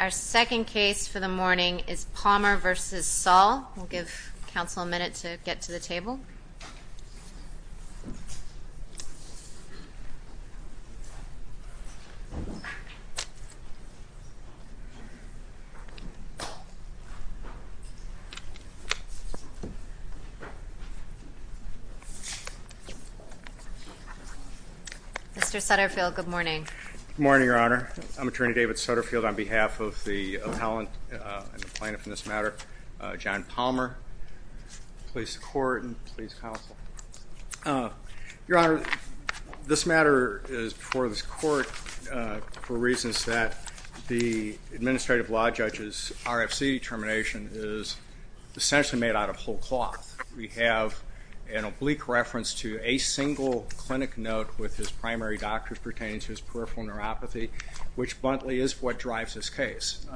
Our second case for the morning is Palmer v. Saul. We'll give counsel a minute to get to the table. Mr. Sutterfield, good morning. Good morning, Your Honor. I'm Attorney David Sutterfield. On behalf of the appellant and the plaintiff in this matter, John Palmer, please support and please counsel. Your Honor, this matter is before this court for reasons that the administrative law judge's RFC determination is essentially made out of whole cloth. We have an oblique reference to a single clinic note with his primary doctor pertaining to his peripheral neuropathy, which bluntly is what drives this case.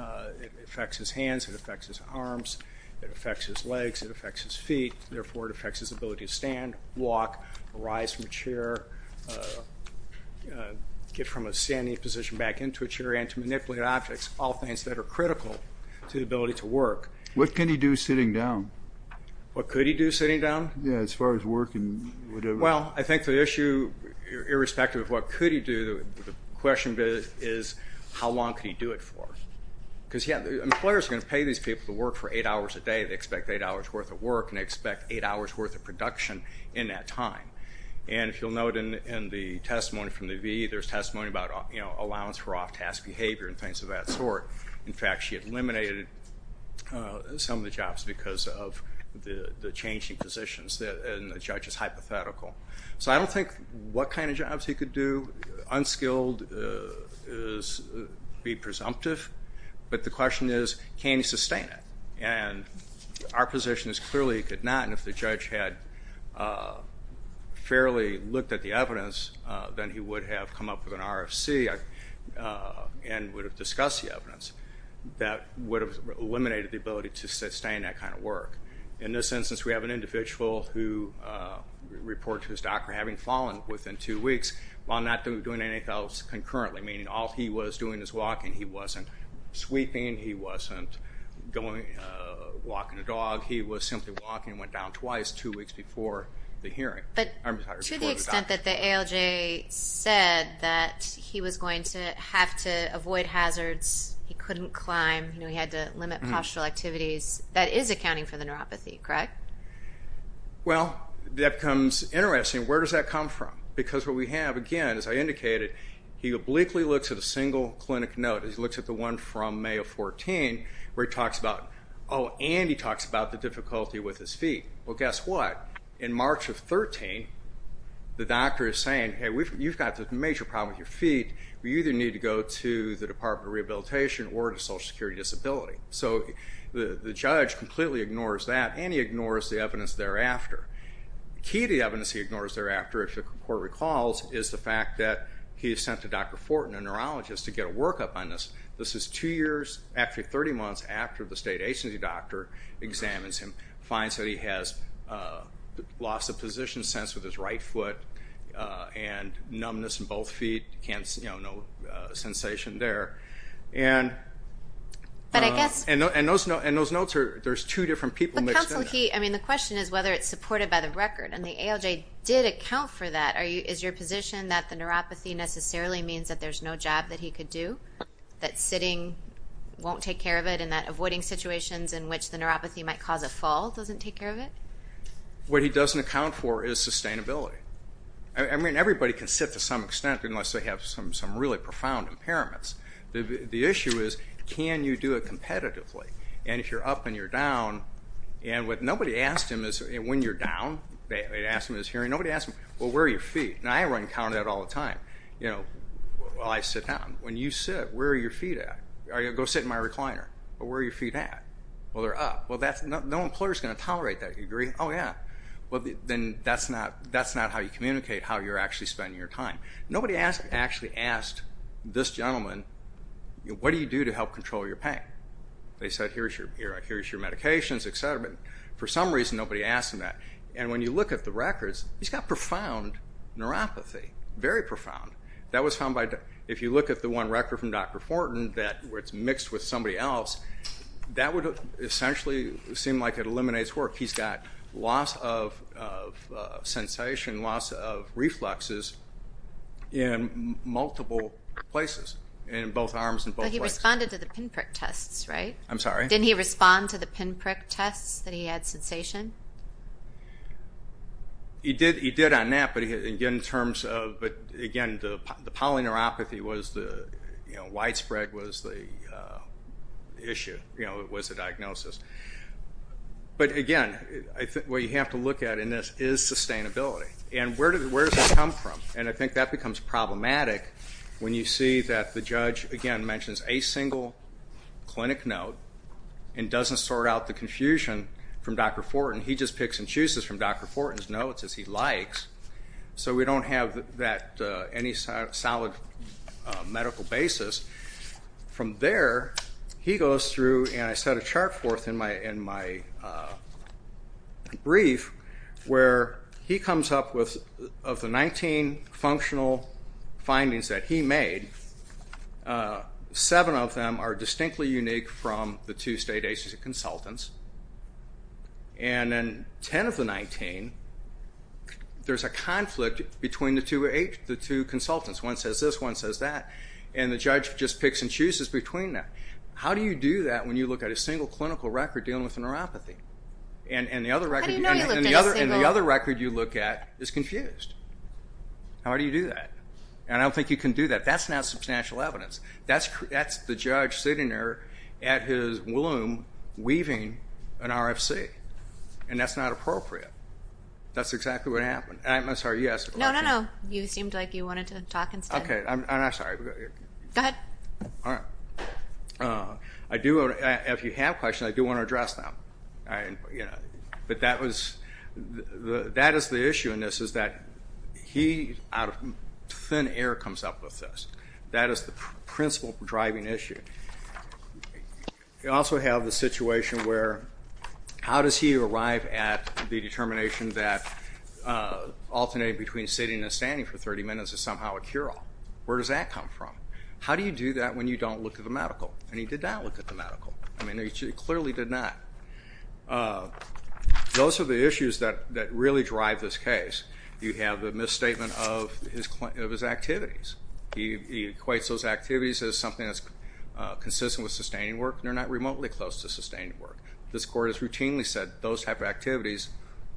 It affects his hands, it affects his arms, it affects his legs, it affects his feet. Therefore, it affects his ability to stand, walk, rise from a chair, get from a standing position back into a chair, and to manipulate objects, all things that are critical to the ability to work. What can he do sitting down? What could he do sitting down? Yeah, as far as work and whatever. Well, I think the issue, irrespective of what could he do, the question is how long could he do it for? Because, yeah, the employer's going to pay these people to work for eight hours a day. They expect eight hours worth of work and they expect eight hours worth of production in that time. And if you'll note in the testimony from the V, there's testimony about, you know, allowance for off-task behavior and things of that sort. In fact, she eliminated some of the jobs because of the changing positions, and the judge is hypothetical. So I don't think what kind of jobs he could do. Unskilled would be presumptive. But the question is can he sustain it? And our position is clearly he could not, and if the judge had fairly looked at the evidence, then he would have come up with an RFC and would have discussed the evidence that would have eliminated the ability to sustain that kind of work. In this instance, we have an individual who reported to his doctor having fallen within two weeks while not doing anything else concurrently, meaning all he was doing was walking. He wasn't sweeping. He wasn't walking a dog. He was simply walking and went down twice two weeks before the hearing. But to the extent that the ALJ said that he was going to have to avoid hazards, he couldn't climb, you know, he had to limit postural activities, that is accounting for the neuropathy, correct? Well, that becomes interesting. Where does that come from? Because what we have, again, as I indicated, he obliquely looks at a single clinic note. He looks at the one from May of 2014 where he talks about, oh, and he talks about the difficulty with his feet. Well, guess what? In March of 2013, the doctor is saying, hey, you've got this major problem with your feet. You either need to go to the Department of Rehabilitation or to Social Security Disability. So the judge completely ignores that, and he ignores the evidence thereafter. The key to the evidence he ignores thereafter, if the court recalls, is the fact that he has sent to Dr. Fortin, a neurologist, to get a workup on this. This is two years, actually 30 months, after the state agency doctor examines him, finds that he has lost the position sense with his right foot and numbness in both feet, no sensation there. And those notes are, there's two different people mixed in. But counsel, the question is whether it's supported by the record, and the ALJ did account for that. Is your position that the neuropathy necessarily means that there's no job that he could do, that sitting won't take care of it, and that avoiding situations in which the neuropathy might cause a fall doesn't take care of it? What he doesn't account for is sustainability. I mean, everybody can sit to some extent unless they have some really profound impairments. The issue is, can you do it competitively? And if you're up and you're down, and what nobody asked him is, when you're down, they asked him in his hearing, nobody asked him, well, where are your feet? And I run counter to that all the time while I sit down. When you sit, where are your feet at? Go sit in my recliner. Well, where are your feet at? Well, they're up. Well, no employer's going to tolerate that. You agree? Oh, yeah. Well, then that's not how you communicate how you're actually spending your time. Nobody actually asked this gentleman, what do you do to help control your pain? They said, here's your medications, et cetera. But for some reason, nobody asked him that. And when you look at the records, he's got profound neuropathy, very profound. If you look at the one record from Dr. Fortin where it's mixed with somebody else, that would essentially seem like it eliminates work. He's got loss of sensation, loss of reflexes in multiple places, in both arms and both legs. But he responded to the pinprick tests, right? I'm sorry? Didn't he respond to the pinprick tests that he had sensation? He did on that, but, again, the polyneuropathy widespread was the issue, was the diagnosis. But, again, what you have to look at in this is sustainability. And where does it come from? And I think that becomes problematic when you see that the judge, again, mentions a single clinic note and doesn't sort out the confusion from Dr. Fortin. He just picks and chooses from Dr. Fortin's notes as he likes. So we don't have that any solid medical basis. From there, he goes through, and I set a chart forth in my brief, where he comes up with, of the 19 functional findings that he made, seven of them are distinctly unique from the two state ACC consultants. And then 10 of the 19, there's a conflict between the two consultants. One says this, one says that. And the judge just picks and chooses between them. How do you do that when you look at a single clinical record dealing with neuropathy? And the other record you look at is confused. How do you do that? And I don't think you can do that. That's not substantial evidence. That's the judge sitting there at his loom weaving an RFC, and that's not appropriate. That's exactly what happened. I'm sorry, you asked a question? No, no, no. You seemed like you wanted to talk instead. Okay. I'm sorry. Go ahead. All right. If you have questions, I do want to address them. But that is the issue in this, is that he, out of thin air, comes up with this. That is the principal driving issue. You also have the situation where how does he arrive at the determination that alternating between sitting and standing for 30 minutes is somehow a cure-all? Where does that come from? How do you do that when you don't look at the medical? And he did not look at the medical. I mean, he clearly did not. Those are the issues that really drive this case. You have the misstatement of his activities. He equates those activities as something that's consistent with sustaining work, and they're not remotely close to sustaining work. This court has routinely said those type of activities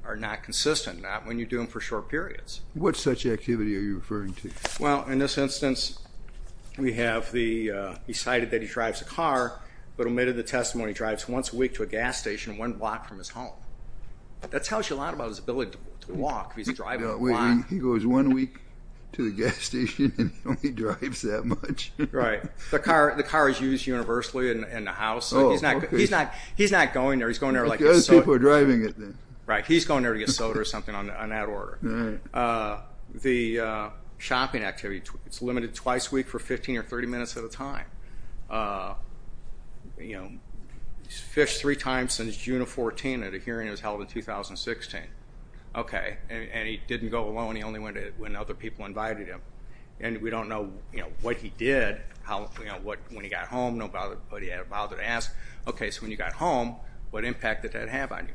are not consistent, not when you do them for short periods. What such activity are you referring to? Well, in this instance, we have he cited that he drives a car, but omitted the testimony he drives once a week to a gas station one block from his home. That tells you a lot about his ability to walk if he's driving a lot. He goes one week to the gas station and only drives that much? Right. The car is used universally in the house. Oh, okay. He's not going there. Other people are driving it then. Right. He's going there to get soda or something on that order. The shopping activity is limited twice a week for 15 or 30 minutes at a time. He's fished three times since June of 2014 at a hearing that was held in 2016. Okay. And he didn't go alone. He only went when other people invited him. And we don't know what he did when he got home, but he didn't bother to ask, okay, so when you got home, what impact did that have on you?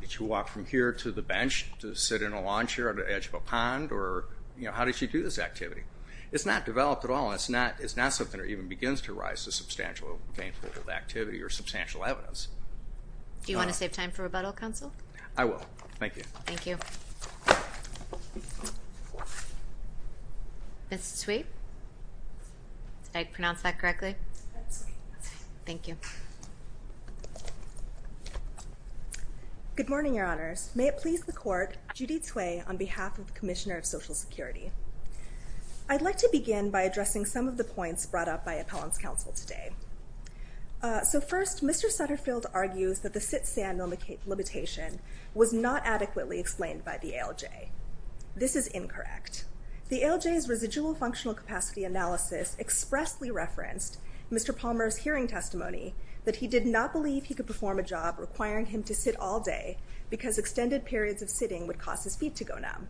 Did you walk from here to the bench to sit in a lawn chair on the edge of a pond? Or how did you do this activity? It's not developed at all, and it's not something that even begins to rise to substantial gainful activity or substantial evidence. Do you want to save time for rebuttal, Counsel? I will. Thank you. Thank you. Ms. Sweet? Did I pronounce that correctly? That's okay. Thank you. Good morning, Your Honors. May it please the Court, Judy Tsui, on behalf of the Commissioner of Social Security. I'd like to begin by addressing some of the points brought up by Appellant's Counsel today. So first, Mr. Sutterfield argues that the sit-stand limitation was not adequately explained by the ALJ. This is incorrect. The ALJ's residual functional capacity analysis expressly referenced Mr. Palmer's hearing testimony that he did not believe he could perform a job requiring him to sit all day because extended periods of sitting would cost his feet to go numb.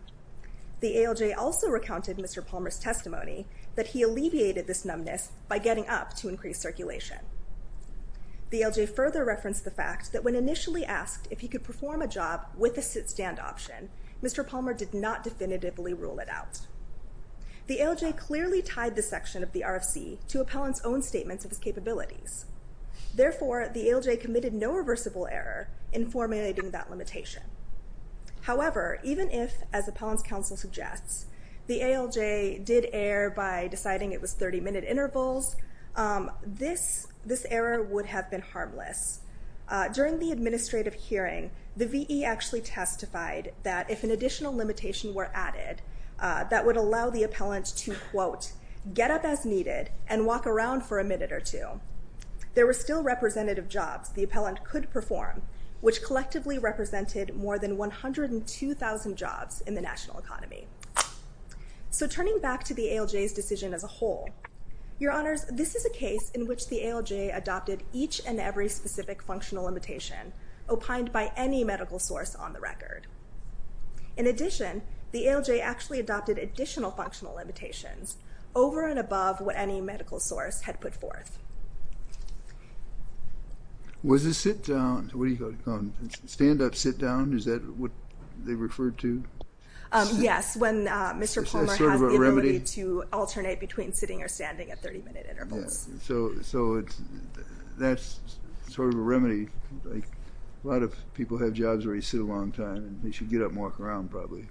The ALJ also recounted Mr. Palmer's testimony that he alleviated this numbness by getting up to increase circulation. The ALJ further referenced the fact that when initially asked if he could perform a job with a sit-stand option, Mr. Palmer did not definitively rule it out. The ALJ clearly tied this section of the RFC to Appellant's own statements of his capabilities. Therefore, the ALJ committed no reversible error in formulating that limitation. However, even if, as Appellant's Counsel suggests, the ALJ did err by deciding it was 30-minute intervals, this error would have been harmless. During the administrative hearing, the V.E. actually testified that if an additional limitation were added, that would allow the Appellant to, quote, get up as needed and walk around for a minute or two. There were still representative jobs the Appellant could perform, which collectively represented more than 102,000 jobs in the national economy. So turning back to the ALJ's decision as a whole, Your Honors, this is a case in which the ALJ adopted each and every specific functional limitation opined by any medical source on the record. In addition, the ALJ actually adopted additional functional limitations over and above what any medical source had put forth. Was the sit-down, stand-up sit-down, is that what they referred to? Yes. When Mr. Palmer has the ability to alternate between sitting or standing at 30-minute intervals. So that's sort of a remedy. A lot of people have jobs where you sit a long time and they should get up and walk around probably.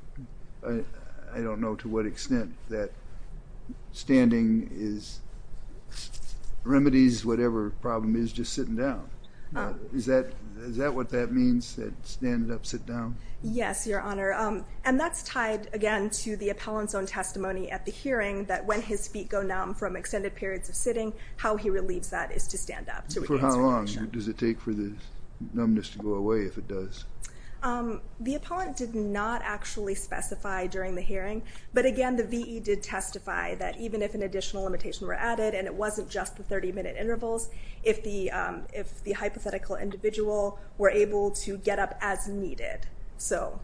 I don't know to what extent that standing is remedies, whatever the problem is, just sitting down. Is that what that means, that stand-up sit-down? Yes, Your Honor. And that's tied, again, to the Appellant's own testimony at the hearing that when his feet go numb from extended periods of sitting, how he relieves that is to stand up. For how long does it take for the numbness to go away if it does? The Appellant did not actually specify during the hearing. But again, the VE did testify that even if an additional limitation were added and it wasn't just the 30-minute intervals, if the hypothetical individual were able to get up as needed. So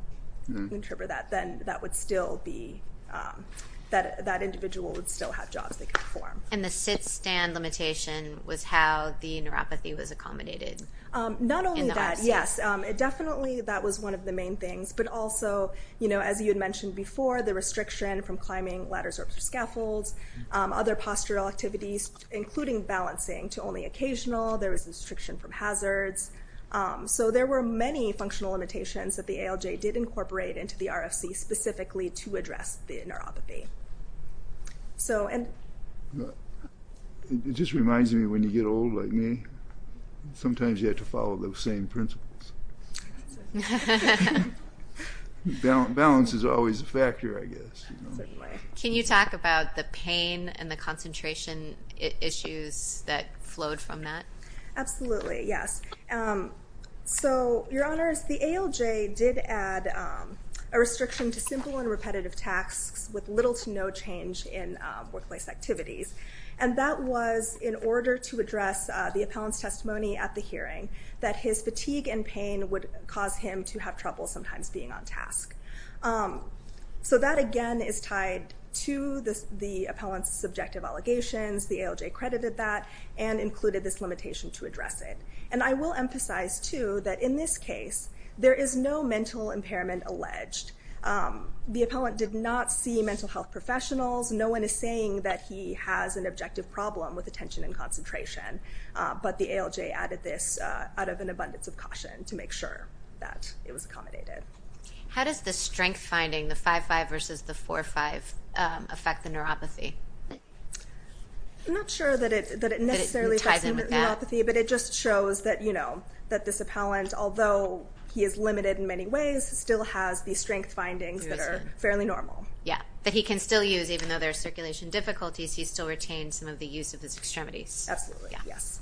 that individual would still have jobs they could perform. And the sit-stand limitation was how the neuropathy was accommodated? Not only that, yes. Definitely that was one of the main things. But also, as you had mentioned before, the restriction from climbing ladders or scaffolds, other postural activities, including balancing to only occasional. There was a restriction from hazards. So there were many functional limitations that the ALJ did incorporate into the RFC specifically to address the neuropathy. It just reminds me, when you get old like me, sometimes you have to follow those same principles. Balance is always a factor, I guess. Can you talk about the pain and the concentration issues that flowed from that? Absolutely, yes. So, Your Honors, the ALJ did add a restriction to simple and repetitive tasks with little to no change in workplace activities. And that was in order to address the appellant's testimony at the hearing, that his fatigue and pain would cause him to have trouble sometimes being on task. So that, again, is tied to the appellant's subjective allegations. The ALJ credited that and included this limitation to address it. And I will emphasize, too, that in this case, there is no mental impairment alleged. The appellant did not see mental health professionals. No one is saying that he has an objective problem with attention and concentration. But the ALJ added this out of an abundance of caution to make sure that it was accommodated. How does the strength finding, the 5.5 versus the 4.5, affect the neuropathy? I'm not sure that it necessarily affects the neuropathy, but it just shows that this appellant, although he is limited in many ways, still has these strength findings that are fairly normal. Yeah, that he can still use, even though there are circulation difficulties, he still retains some of the use of his extremities. Absolutely, yes.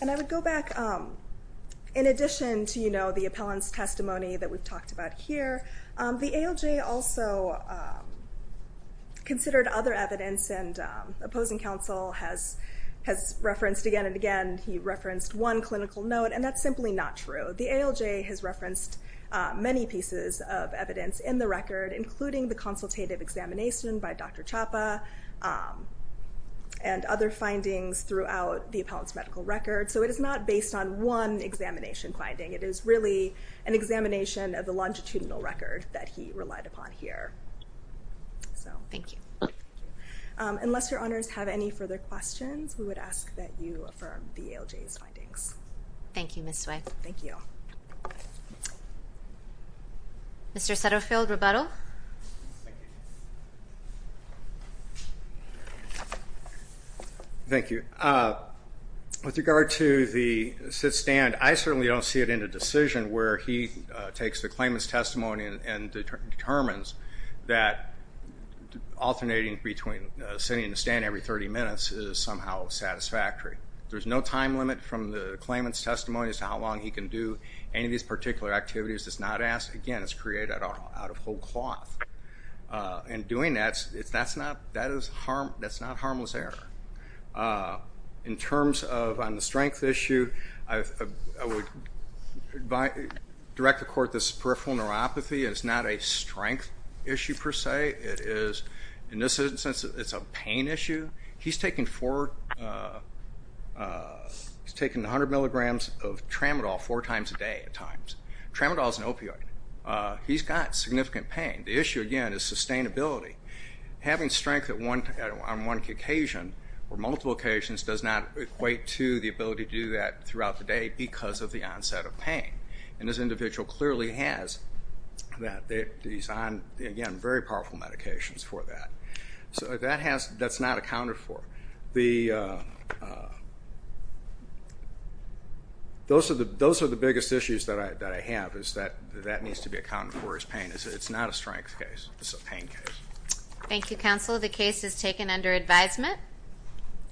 And I would go back. In addition to the appellant's testimony that we've talked about here, the ALJ also considered other evidence, and opposing counsel has referenced again and again. He referenced one clinical note, and that's simply not true. The ALJ has referenced many pieces of evidence in the record, including the consultative examination by Dr. Chapa, and other findings throughout the appellant's medical record. So it is not based on one examination finding. It is really an examination of the longitudinal record that he relied upon here. Thank you. Unless your honors have any further questions, we would ask that you affirm the ALJ's findings. Thank you, Ms. Sweigh. Thank you. Mr. Sutterfield, rebuttal. Thank you. With regard to the sit-stand, I certainly don't see it in a decision where he takes the claimant's testimony and determines that alternating between sitting in a stand every 30 minutes is somehow satisfactory. There's no time limit from the claimant's testimony as to how long he can do any of these particular activities. Again, it's created out of whole cloth. And doing that, that's not harmless error. In terms of on the strength issue, I would direct the court this peripheral neuropathy is not a strength issue, per se. In this instance, it's a pain issue. He's taken 100 milligrams of tramadol four times a day at times. Tramadol is an opioid. He's got significant pain. The issue, again, is sustainability. Having strength on one occasion or multiple occasions does not equate to the ability to do that throughout the day because of the onset of pain. And this individual clearly has that. He's on, again, very powerful medications for that. So that's not accounted for. Those are the biggest issues that I have is that that needs to be accounted for as pain. It's not a strength case. It's a pain case. Thank you, Counselor. The case is taken under advisement.